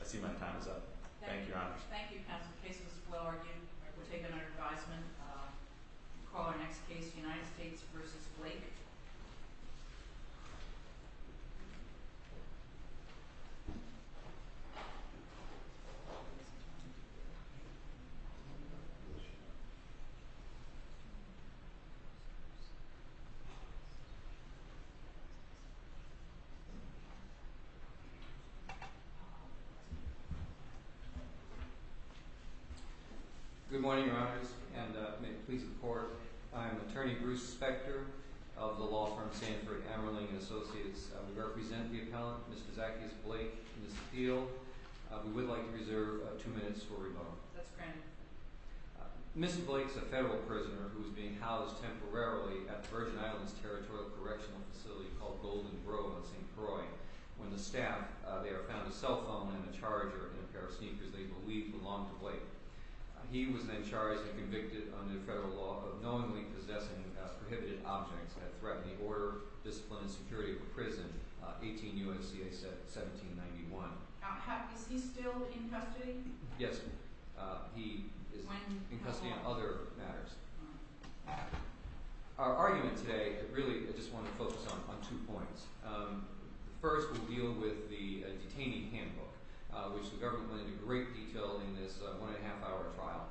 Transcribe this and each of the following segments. I see my time is up. Thank you, Your Honor. Thank you, counsel. The case was well argued. We'll take it under advisement. We'll call our next case, United States v. Blake. Good morning, Your Honors, and may it please the Court, I am attorney Bruce Spector of the law firm Sanford Amarling & Associates. I would like to present the appellant, Mr. Zacharias Blake, in this appeal. We would like to reserve two minutes for rebuttal. That's granted. Mr. Blake is a federal prisoner who is being housed temporarily at the Virgin Islands Territorial Correctional Facility called Golden Grove on St. Croix. When the staff there found a cell phone and a charger in a pair of sneakers they believed belonged to Blake. He was then charged and convicted under federal law of knowingly possessing prohibited objects that threatened the order, discipline, and security of a prison. 18 U.S.C.A. 1791. Is he still in custody? Yes, he is in custody on other matters. Our argument today, really I just want to focus on two points. First, we'll deal with the detaining handbook, which the government went into great detail in this one-and-a-half-hour trial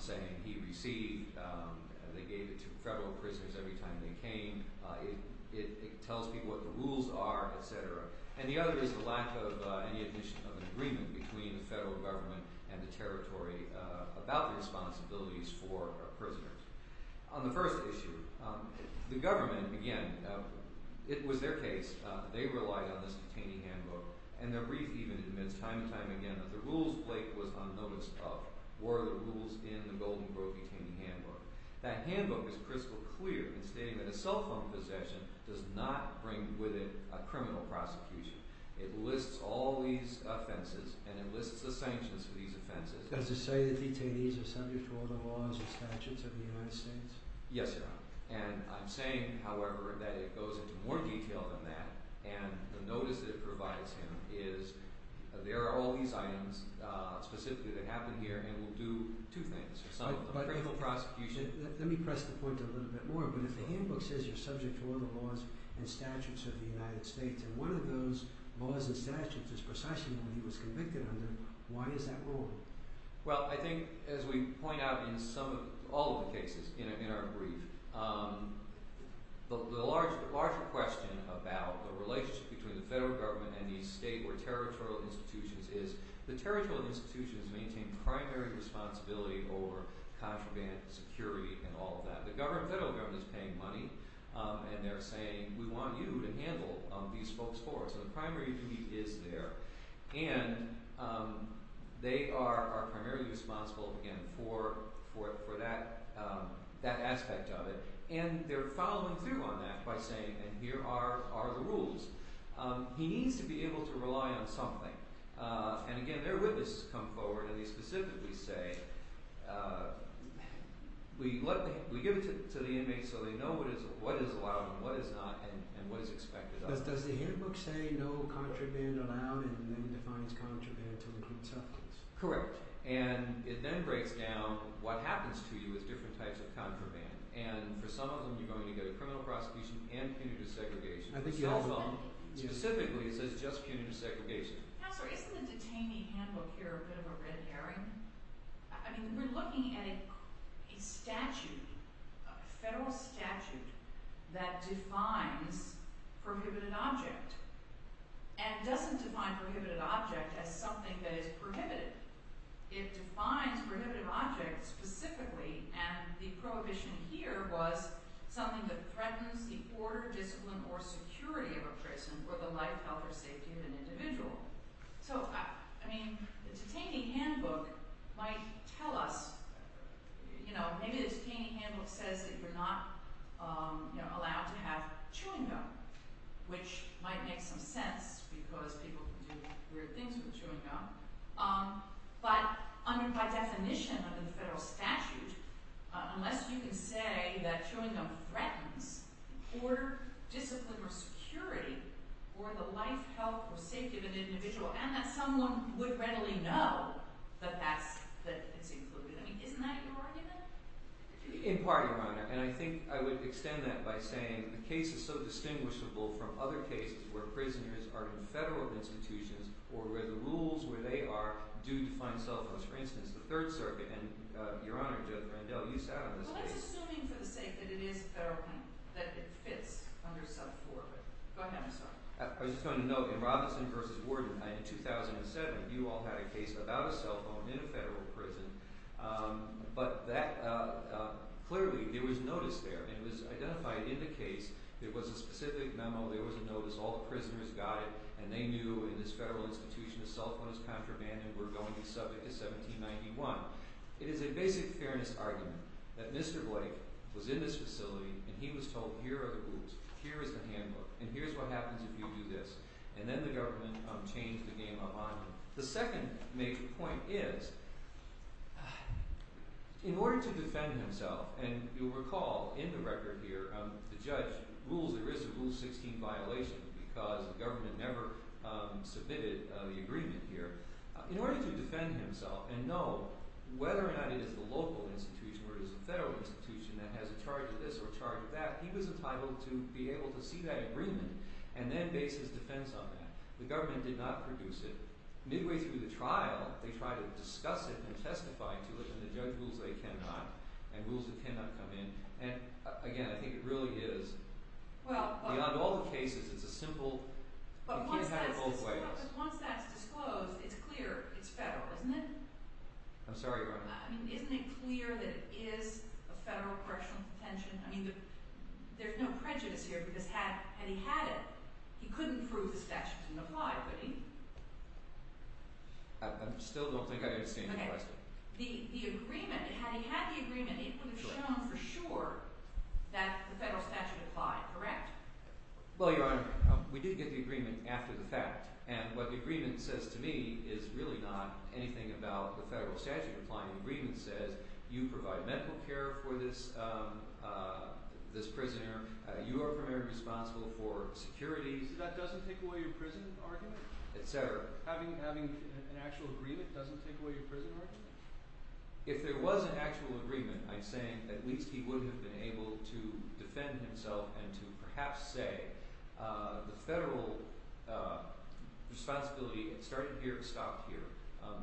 saying he received. They gave it to federal prisoners every time they came. It tells people what the rules are, etc. And the other is the lack of any admission of an agreement between the federal government and the territory about the responsibilities for prisoners. On the first issue, the government, again, it was their case. They relied on this detaining handbook. And the brief even admits time and time again that the rules Blake was on notice of were the rules in the Golden Grove detaining handbook. That handbook is crystal clear in stating that a cell phone possession does not bring with it a criminal prosecution. It lists all these offenses and it lists the sanctions for these offenses. Does it say that detainees are subject to all the laws and statutes of the United States? Yes, Your Honor. And I'm saying, however, that it goes into more detail than that. And the notice that it provides him is there are all these items specifically that happen here and will do two things. It's not a criminal prosecution. Let me press the point a little bit more. But if the handbook says you're subject to all the laws and statutes of the United States, and one of those laws and statutes is precisely what he was convicted under, why is that rule? Well, I think as we point out in some of – all of the cases in our brief, the larger question about the relationship between the federal government and these state or territorial institutions is the territorial institutions maintain primary responsibility over contraband, security, and all of that. The federal government is paying money, and they're saying, we want you to handle these folks for us. So the primary duty is there. And they are primarily responsible, again, for that aspect of it. And they're following through on that by saying, and here are the rules. He needs to be able to rely on something. And again, their witnesses come forward and they specifically say, we give it to the inmates so they know what is allowed and what is not and what is expected of them. But does the handbook say no contraband allowed and then defines contraband to include substance? Correct. And it then breaks down what happens to you with different types of contraband. And for some of them, you're going to get a criminal prosecution and punitive segregation. Specifically, it says just punitive segregation. Counselor, isn't the detainee handbook here a bit of a red herring? I mean, we're looking at a statute, a federal statute, that defines prohibited object and doesn't define prohibited object as something that is prohibited. It defines prohibitive object specifically, and the prohibition here was something that threatens the order, discipline, or security of a person or the life, health, or safety of an individual. So, I mean, the detainee handbook might tell us, you know, maybe this detainee handbook says that you're not allowed to have chewing gum, which might make some sense because people can do weird things with chewing gum. But by definition, under the federal statute, unless you can say that chewing gum threatens the order, discipline, or security, or the life, health, or safety of an individual, and that someone would readily know that that's included. I mean, isn't that your argument? In part, Your Honor, and I think I would extend that by saying the case is so distinguishable from other cases where prisoners are in federal institutions or where the rules where they are do define cell phones. For instance, the Third Circuit, and Your Honor, Randell, you sat on this case. Well, I was assuming for the sake that it is federal, that it fits under self-corporate. Go ahead, I'm sorry. I was just going to note, in Robinson v. Worden, in 2007, you all had a case about a cell phone in a federal prison. But that, clearly, there was notice there, and it was identified in the case. There was a specific memo, there was a notice, all the prisoners got it, and they knew in this federal institution that cell phones contraband were going to subject to 1791. Now, it is a basic fairness argument that Mr. Blake was in this facility, and he was told, here are the rules, here is the handbook, and here's what happens if you do this. And then the government changed the game up on him. The second major point is, in order to defend himself, and you'll recall in the record here, the judge rules there is a Rule 16 violation because the government never submitted the agreement here. In order to defend himself and know whether or not it is the local institution or it is a federal institution that has a charge of this or a charge of that, he was entitled to be able to see that agreement and then base his defense on that. The government did not produce it. Midway through the trial, they tried to discuss it and testify to it, and the judge rules they cannot, and rules that cannot come in. And, again, I think it really is, beyond all the cases, it's a simple, you can't have it both ways. But once that's disclosed, it's clear it's federal, isn't it? I'm sorry, Your Honor. I mean, isn't it clear that it is a federal correctional detention? I mean, there's no prejudice here because had he had it, he couldn't prove the statute didn't apply, could he? I still don't think I understand your question. Okay. The agreement, had he had the agreement, it would have shown for sure that the federal statute applied, correct? Well, Your Honor, we did get the agreement after the fact. And what the agreement says to me is really not anything about the federal statute applying. The agreement says you provide medical care for this prisoner. You are primarily responsible for security. That doesn't take away your prison argument? Et cetera. Having an actual agreement doesn't take away your prison argument? If there was an actual agreement, I'm saying at least he would have been able to defend himself and to perhaps say the federal responsibility started here and stopped here.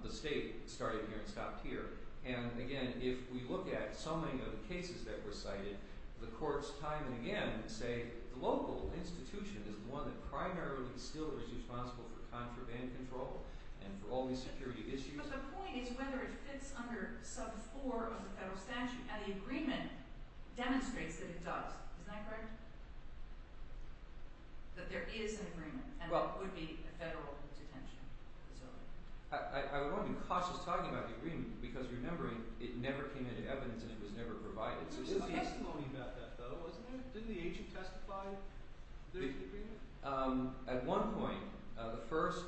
The state started here and stopped here. And again, if we look at so many of the cases that were cited, the courts time and again say the local institution is the one that primarily still is responsible for contraband control and for all these security issues. Because the point is whether it fits under sub four of the federal statute. And the agreement demonstrates that it does. Isn't that correct? That there is an agreement and there would be a federal detention facility. I want to be cautious talking about the agreement because remembering it never came into evidence and it was never provided. There was some testimony about that though, wasn't there? Didn't the agent testify that there was an agreement? At one point, the first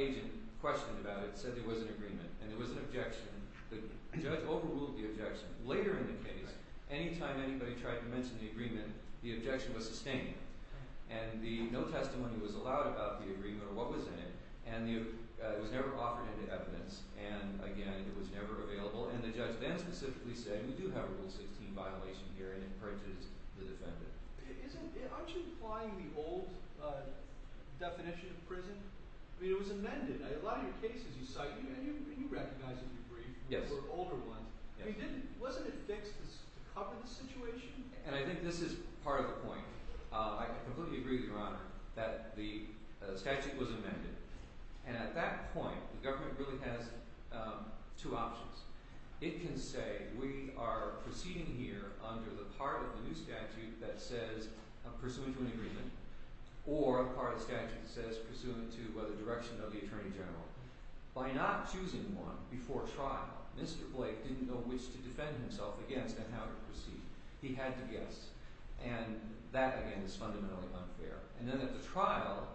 agent questioned about it, said there was an agreement and there was an objection. The judge overruled the objection. Later in the case, any time anybody tried to mention the agreement, the objection was sustained. And no testimony was allowed about the agreement or what was in it. And it was never offered into evidence. And again, it was never available. And the judge then specifically said we do have a rule 16 violation here and it purges the defendant. Aren't you applying the old definition of prison? I mean it was amended. A lot of your cases you cite, and you recognize and agree, were older ones. Wasn't it fixed to cover this situation? And I think this is part of the point. I completely agree with Your Honor that the statute was amended. And at that point, the government really has two options. It can say we are proceeding here under the part of the new statute that says pursuant to an agreement or a part of the statute that says pursuant to the direction of the Attorney General. By not choosing one before trial, Mr. Blake didn't know which to defend himself against and how to proceed. He had to guess. And that, again, is fundamentally unfair. And then at the trial,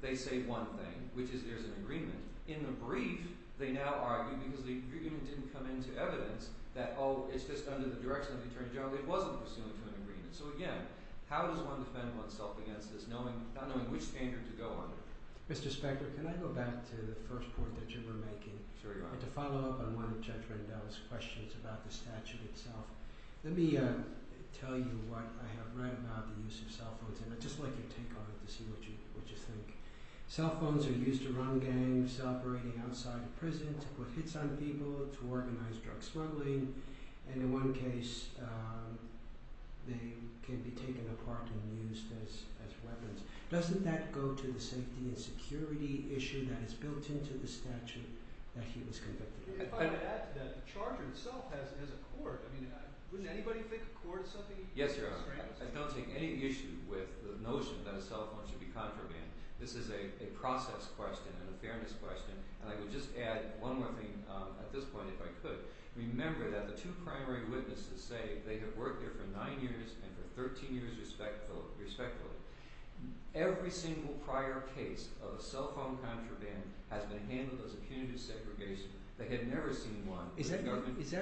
they say one thing, which is there's an agreement. In the brief, they now argue because the agreement didn't come into evidence that, oh, it's just under the direction of the Attorney General. It wasn't pursuant to an agreement. So, again, how does one defend oneself against this not knowing which standard to go under? Mr. Specker, can I go back to the first point that you were making? Sure, Your Honor. And to follow up on one of Judge Rendell's questions about the statute itself. Let me tell you what I have read about the use of cell phones. And I'd just like your take on it to see what you think. Cell phones are used to run gangs operating outside of prison, to put hits on people, to organize drug smuggling. And in one case, they can be taken apart and used as weapons. Doesn't that go to the safety and security issue that is built into the statute that he was convicted of? The charge itself has a court. I mean, wouldn't anybody pick a court or something? Yes, Your Honor. I don't take any issue with the notion that a cell phone should be contraband. This is a process question and a fairness question. And I would just add one more thing at this point if I could. Remember that the two primary witnesses say they have worked there for nine years and for 13 years respectfully. Every single prior case of a cell phone contraband has been handled as a punitive segregation. They had never seen one. Is that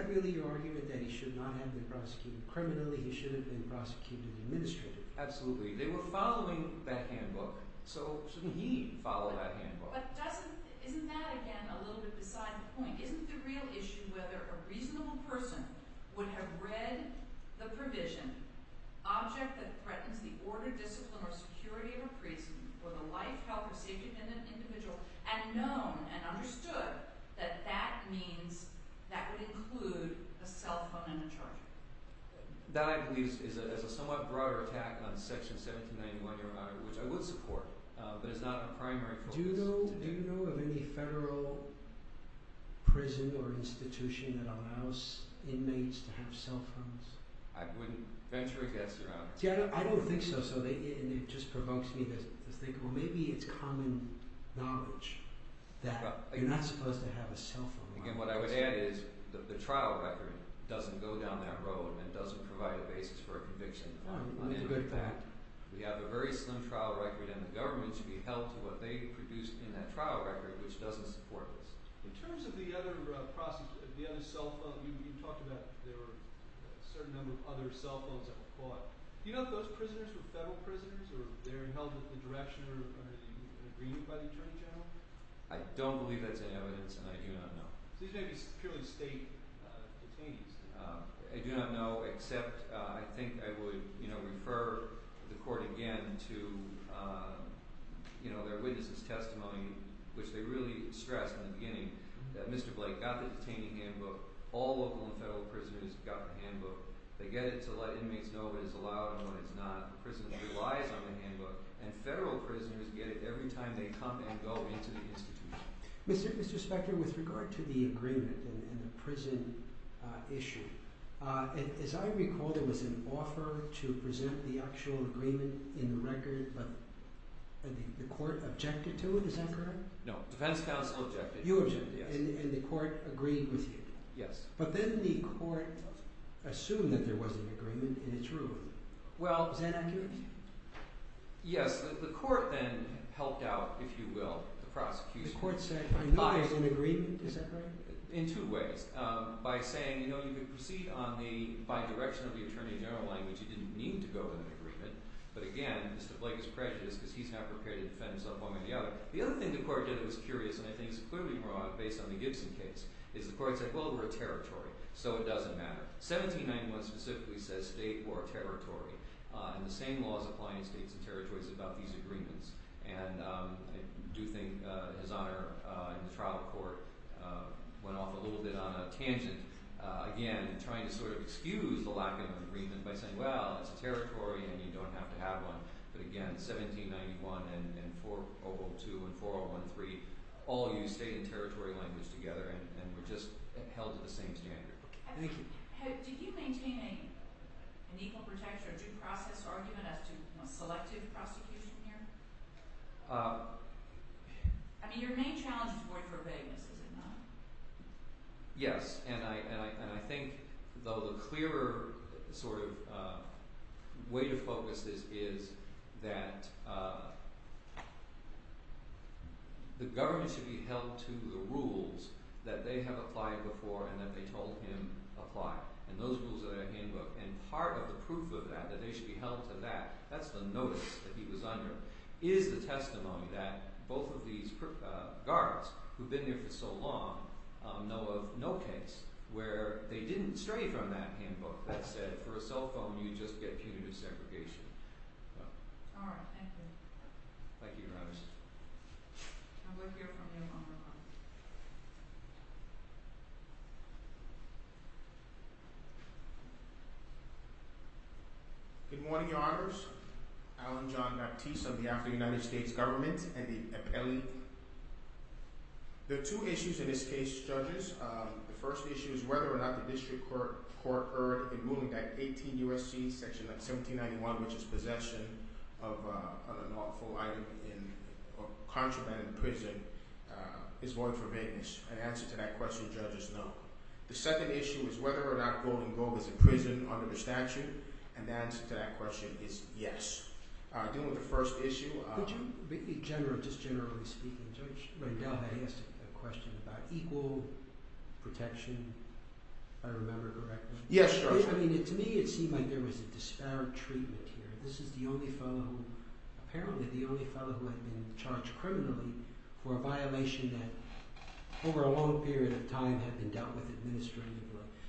really your argument that he should not have been prosecuted criminally? He should have been prosecuted administratively? Absolutely. They were following that handbook, so shouldn't he follow that handbook? But doesn't – isn't that, again, a little bit beside the point? Isn't the real issue whether a reasonable person would have read the provision, object that threatens the order, discipline, or security of a prison for the life, health, or safety of an individual, and known and understood that that means that would include a cell phone and a charger? That, I believe, is a somewhat broader attack on Section 1791, your Honor, which I would support, but it's not a primary focus. Do you know of any federal prison or institution that allows inmates to have cell phones? I wouldn't venture a guess, Your Honor. See, I don't think so. So it just provokes me to think, well, maybe it's common knowledge that you're not supposed to have a cell phone. Again, what I would add is that the trial record doesn't go down that road and doesn't provide a basis for a conviction. That's a good fact. We have a very slim trial record, and the government should be held to what they produced in that trial record, which doesn't support this. In terms of the other cell phone, you talked about there were a certain number of other cell phones that were caught. Do you know if those prisoners were federal prisoners or they're held at the direction or under the agreement by the Attorney General? I don't believe that's any evidence, and I do not know. These may be purely state detainees. I do not know, except I think I would refer the court again to their witnesses' testimony, which they really stressed in the beginning that Mr. Blake got the detainee handbook. All local and federal prisoners got the handbook. They get it to let inmates know what is allowed and what is not. The prison relies on the handbook, and federal prisoners get it every time they come and go into the institution. Mr. Spector, with regard to the agreement and the prison issue, as I recall, there was an offer to present the actual agreement in the record, but the court objected to it. Is that correct? No. Defense counsel objected. You objected, and the court agreed with you. Yes. But then the court assumed that there was an agreement, and it's ruined. Well, is that accurate? Yes. The court then helped out, if you will, the prosecution. The court said, I know there's an agreement. Is that right? In two ways. By saying, you know, you can proceed by direction of the attorney general language. You didn't need to go to an agreement. But again, Mr. Blake is prejudiced because he's not prepared to defend himself one way or the other. The other thing the court did that was curious, and I think is clearly wrong based on the Gibson case, is the court said, well, we're a territory, so it doesn't matter. 1791 specifically says state or territory. And the same laws apply in states and territories about these agreements. And I do think his honor in the trial of the court went off a little bit on a tangent, again, trying to sort of excuse the lack of an agreement by saying, well, it's a territory and you don't have to have one. But again, 1791 and 4.012 and 4.013 all used state and territory language together and were just held to the same standard. Thank you. Did you maintain an equal protection or due process argument as to selective prosecution here? I mean your main challenge is void for vagueness, is it not? Yes. And I think the clearer sort of way to focus this is that the government should be held to the rules that they have applied before and that they told him apply. And part of the proof of that, that they should be held to that, that's the notice that he was under, is the testimony that both of these guards who've been there for so long know of no case where they didn't stray from that handbook that said for a cell phone you just get punitive segregation. All right. Thank you. Thank you, Your Honor. I would hear from you on that one. Good morning, Your Honors. Alan John Baptiste of the African United States government and the appellee. There are two issues in this case, judges. The first issue is whether or not the district court heard a ruling that 18 U.S.C. section 1791, which is possession of an awful item in or contraband in prison, is void for vagueness. An answer to that question, judges, no. The second issue is whether or not Golden Globe is a prison under the statute, and the answer to that question is yes. Dealing with the first issue. Could you be just generally speaking, Judge Rendell, I asked a question about equal protection, if I remember correctly. Yes, Your Honor. I mean, to me it seemed like there was a disparate treatment here. This is the only fellow, apparently the only fellow who had been charged criminally for a violation that over a long period of time had been dealt with administratively.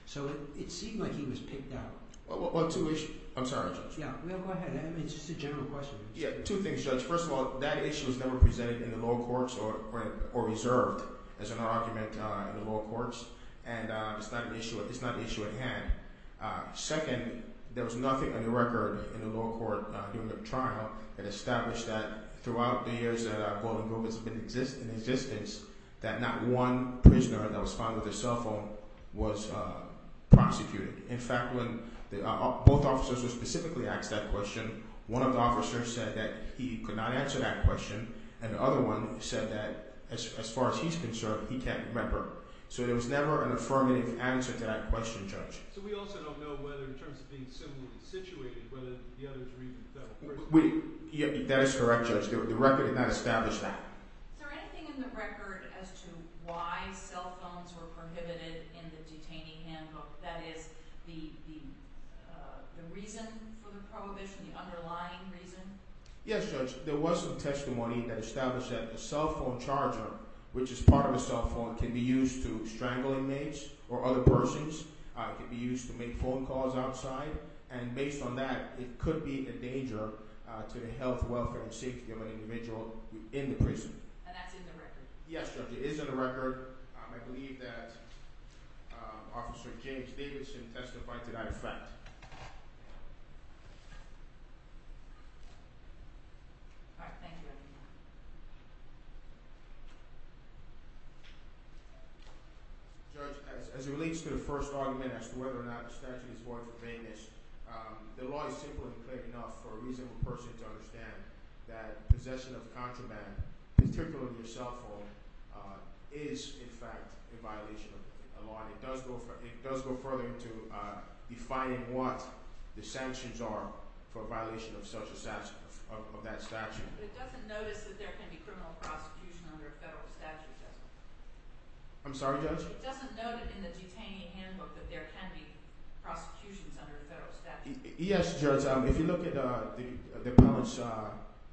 So it seemed like he was picked out. Well, two issues. I'm sorry, Judge. Yeah, go ahead. I mean, it's just a general question. Yeah, two things, Judge. First of all, that issue was never presented in the lower courts or reserved as an argument in the lower courts, and it's not an issue at hand. Second, there was nothing on the record in the lower court during the trial that established that throughout the years that Golden Globe has been in existence, that not one prisoner that was found with a cell phone was prosecuted. In fact, when both officers were specifically asked that question, one of the officers said that he could not answer that question, and the other one said that as far as he's concerned, he can't remember. So there was never an affirmative answer to that question, Judge. So we also don't know whether in terms of being similarly situated, whether the other three were dealt with. That is correct, Judge. The record did not establish that. Is there anything in the record as to why cell phones were prohibited in the detainee handbook? That is, the reason for the prohibition, the underlying reason? Yes, Judge. There was some testimony that established that a cell phone charger, which is part of a cell phone, can be used to strangle inmates or other persons. It can be used to make phone calls outside, and based on that, it could be a danger to the health, welfare, and safety of an individual in the prison. And that's in the record? Yes, Judge. It is in the record. I believe that Officer James Davidson testified to that effect. All right. Thank you, everyone. Judge, as it relates to the first argument as to whether or not the statute is void of obeyance, the law is simple and clear enough for a reasonable person to understand that possession of a contraband, particularly a cell phone, is in fact a violation of the law. It does go further into defining what the sanctions are for a violation of that statute. But it doesn't notice that there can be criminal prosecution under a federal statute, does it? I'm sorry, Judge? It doesn't note in the detainee handbook that there can be prosecutions under a federal statute? Yes, Judge. If you look at the appellate's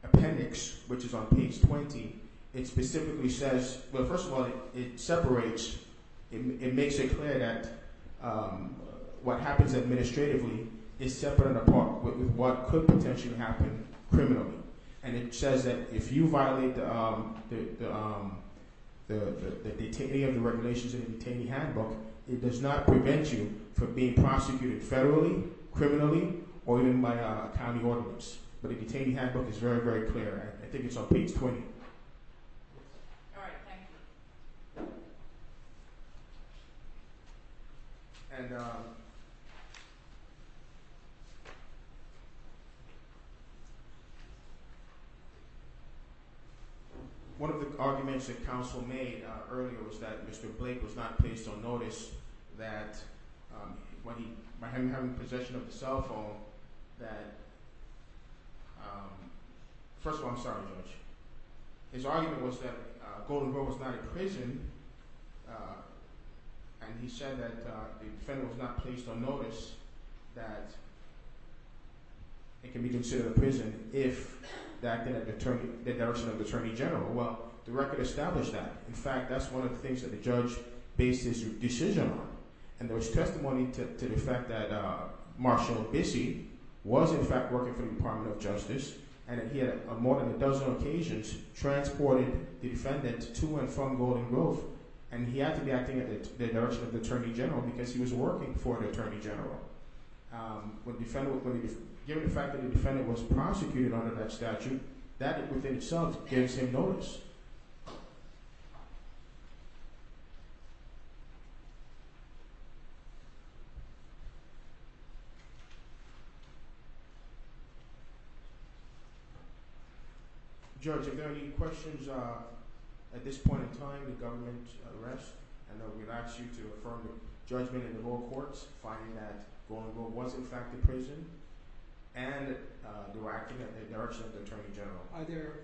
appendix, which is on page 20, it specifically says – well, first of all, it separates – it makes it clear that what happens administratively is separate and apart with what could potentially happen criminally. And it says that if you violate any of the regulations in the detainee handbook, it does not prevent you from being prosecuted federally, criminally, or even by a county ordinance. But the detainee handbook is very, very clear. I think it's on page 20. All right. Thank you. One of the arguments that counsel made earlier was that Mr. Blake was not placed on notice that when he – by him having possession of the cell phone that – first of all, I'm sorry, Judge. His argument was that Goldenberg was not in prison, and he said that the defendant was not placed on notice that it can be considered a prison if the act didn't deter – that there was no attorney general. Well, the record established that. In fact, that's one of the things that the judge based his decision on. And there was testimony to the fact that Marshall Bissey was, in fact, working for the Department of Justice, and that he had, on more than a dozen occasions, transported the defendant to and from Golden Grove. And he had to be acting in the direction of the attorney general because he was working for an attorney general. Given the fact that the defendant was prosecuted under that statute, that within itself gives him notice. Thank you. Judge, if there are any questions, at this point in time, the government rests, and I would ask you to affirm your judgment in the lower courts, finding that Golden Grove was, in fact, a prison, and directing it in the direction of the attorney general. Are there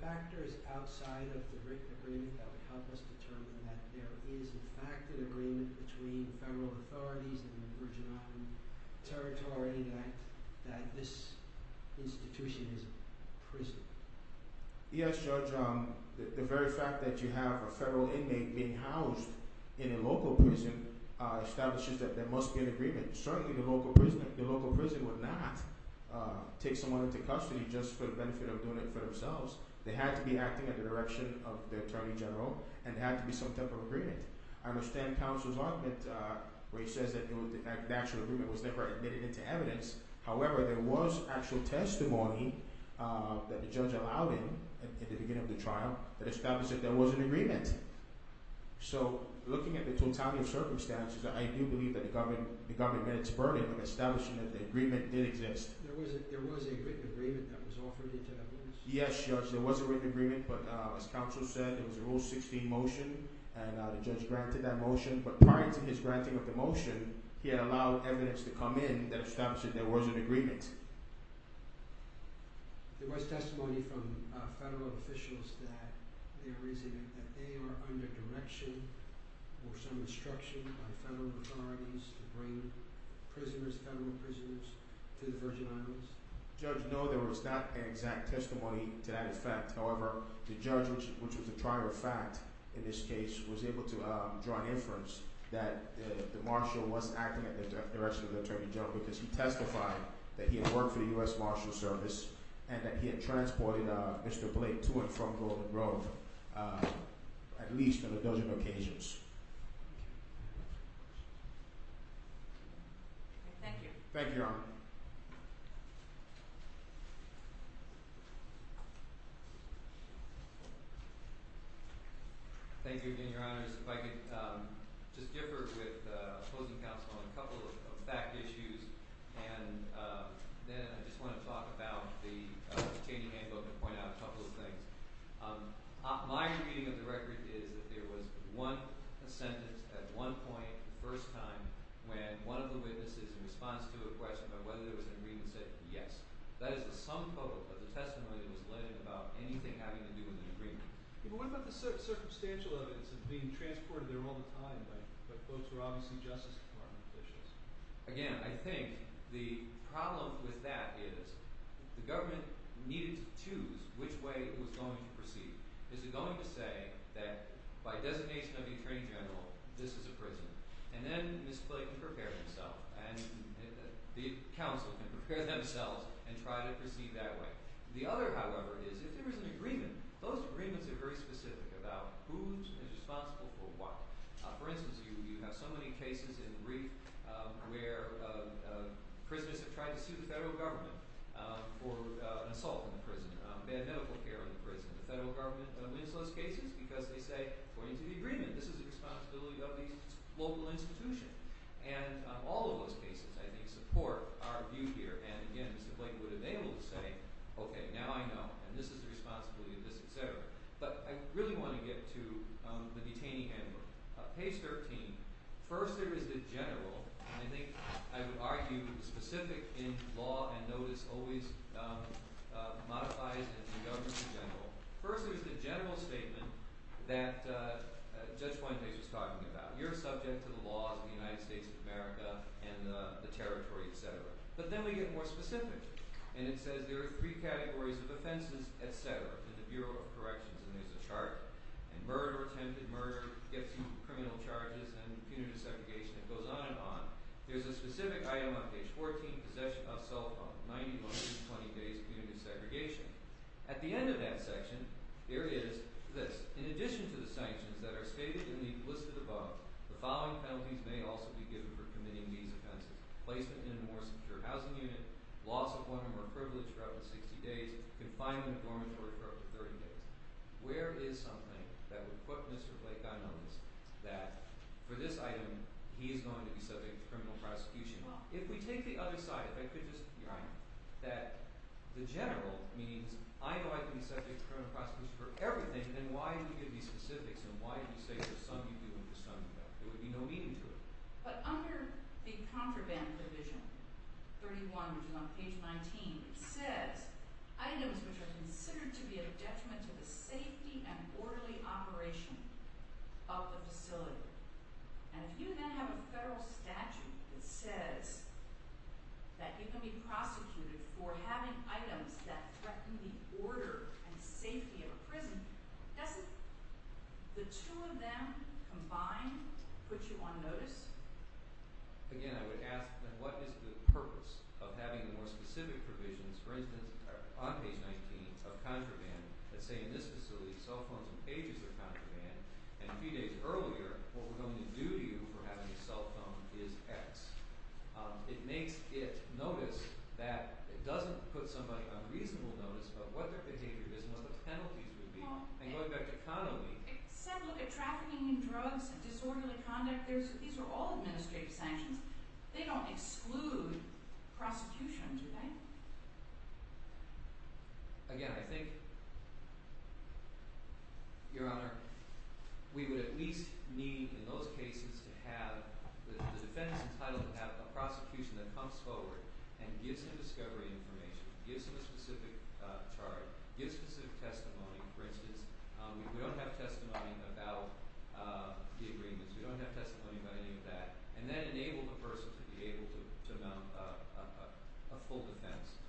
factors outside of the written agreement that would help us determine that there is, in fact, an agreement between federal authorities and the Virgin Island Territory that this institution is a prison? Yes, Judge. The very fact that you have a federal inmate being housed in a local prison establishes that there must be an agreement. Certainly, the local prison would not take someone into custody just for the benefit of doing it for themselves. They had to be acting in the direction of the attorney general, and there had to be some type of agreement. I understand counsel's argument where he says that the actual agreement was never admitted into evidence. However, there was actual testimony that the judge allowed him at the beginning of the trial that established that there was an agreement. So, looking at the totality of circumstances, I do believe that the government made its burden of establishing that the agreement did exist. There was a written agreement that was offered into evidence? Yes, Judge. There was a written agreement, but as counsel said, it was a Rule 16 motion, and the judge granted that motion. But prior to his granting of the motion, he had allowed evidence to come in that established that there was an agreement. There was testimony from federal officials that they are under direction or some instruction by federal authorities to bring federal prisoners to the Virgin Islands? Judge, no, there was not an exact testimony to that effect. However, the judge, which was a prior fact in this case, was able to draw an inference that the marshal was acting in the direction of the attorney general, because he testified that he had worked for the U.S. Marshal Service and that he had transported Mr. Blake to and from Golden Grove, at least on a dozen occasions. Thank you. Thank you, Your Honor. Thank you again, Your Honors. If I could just differ with opposing counsel on a couple of fact issues, and then I just want to talk about the Cheney Handbook and point out a couple of things. My reading of the record is that there was one sentence at one point, the first time, when one of the witnesses, in response to a question about whether there was an agreement, said yes. That is the sum quote of the testimony that was led about anything having to do with an agreement. What about the circumstantial evidence of being transported there all the time by folks who are obviously Justice Department officials? Again, I think the problem with that is the government needed to choose which way it was going to proceed. Is it going to say that by designation of the attorney general, this is a prison? And then Mr. Blake can prepare himself and the counsel can prepare themselves and try to proceed that way. The other, however, is if there is an agreement, those agreements are very specific about who is responsible for what. For instance, you have so many cases in brief where prisoners have tried to sue the federal government for an assault in the prison, bad medical care in the prison. The federal government wins those cases because they say, according to the agreement, this is the responsibility of the local institution. And all of those cases, I think, support our view here. And again, Mr. Blake would have been able to say, okay, now I know, and this is the responsibility of this, etc. But I really want to get to the detainee handbook. Page 13. First, there is the general. I think I would argue specific in law and notice always modifies the government in general. First, there's the general statement that Judge Weinberg was talking about. You're subject to the laws of the United States of America and the territory, etc. But then we get more specific, and it says there are three categories of offenses, etc., in the Bureau of Corrections, and there's a chart. And murder or attempted murder gets you criminal charges and punitive segregation. It goes on and on. There's a specific item on page 14, possession of cell phone, 90 months to 20 days punitive segregation. At the end of that section, there is this. In addition to the sanctions that are stated in the list of above, the following penalties may also be given for committing these offenses. Placement in a more secure housing unit, loss of one or more privilege for up to 60 days, confinement in a dormitory for up to 30 days. Where is something that would put Mr. Blake on notice that for this item, he is going to be subject to criminal prosecution? If we take the other side of it, that the general means I know I can be subject to criminal prosecution for everything. Then why do we give these specifics and why do we say for some people and for some people? There would be no meaning to it. But under the contraband division, 31, which is on page 19, it says items which are considered to be a detriment to the safety and orderly operation of the facility. And if you then have a federal statute that says that you can be prosecuted for having items that threaten the order and safety of a prison, that's it. The two of them combined put you on notice? Again, I would ask then what is the purpose of having the more specific provisions, for instance, on page 19 of contraband that say in this facility, cell phones and pages are contraband. And a few days earlier, what we're going to do to you for having a cell phone is X. It makes it notice that it doesn't put somebody on reasonable notice about what their behavior is and what the penalties would be. And going back to Connelly. Except look at trafficking in drugs and disorderly conduct. These are all administrative sanctions. They don't exclude prosecution, do they? Again, I think, Your Honor, we would at least need in those cases to have the defendants entitled to have a prosecution that comes forward and gives them discovery information, gives them a specific charge, gives specific testimony. For instance, we don't have testimony about the agreements. We don't have testimony about any of that. And then enable the person to be able to come to a full defense.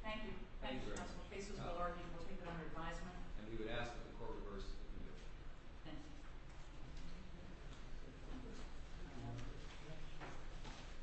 Thank you. Thank you, Counsel. The case is well argued. We'll take it under advisement. And we would ask that the court reverse the conviction. Thank you.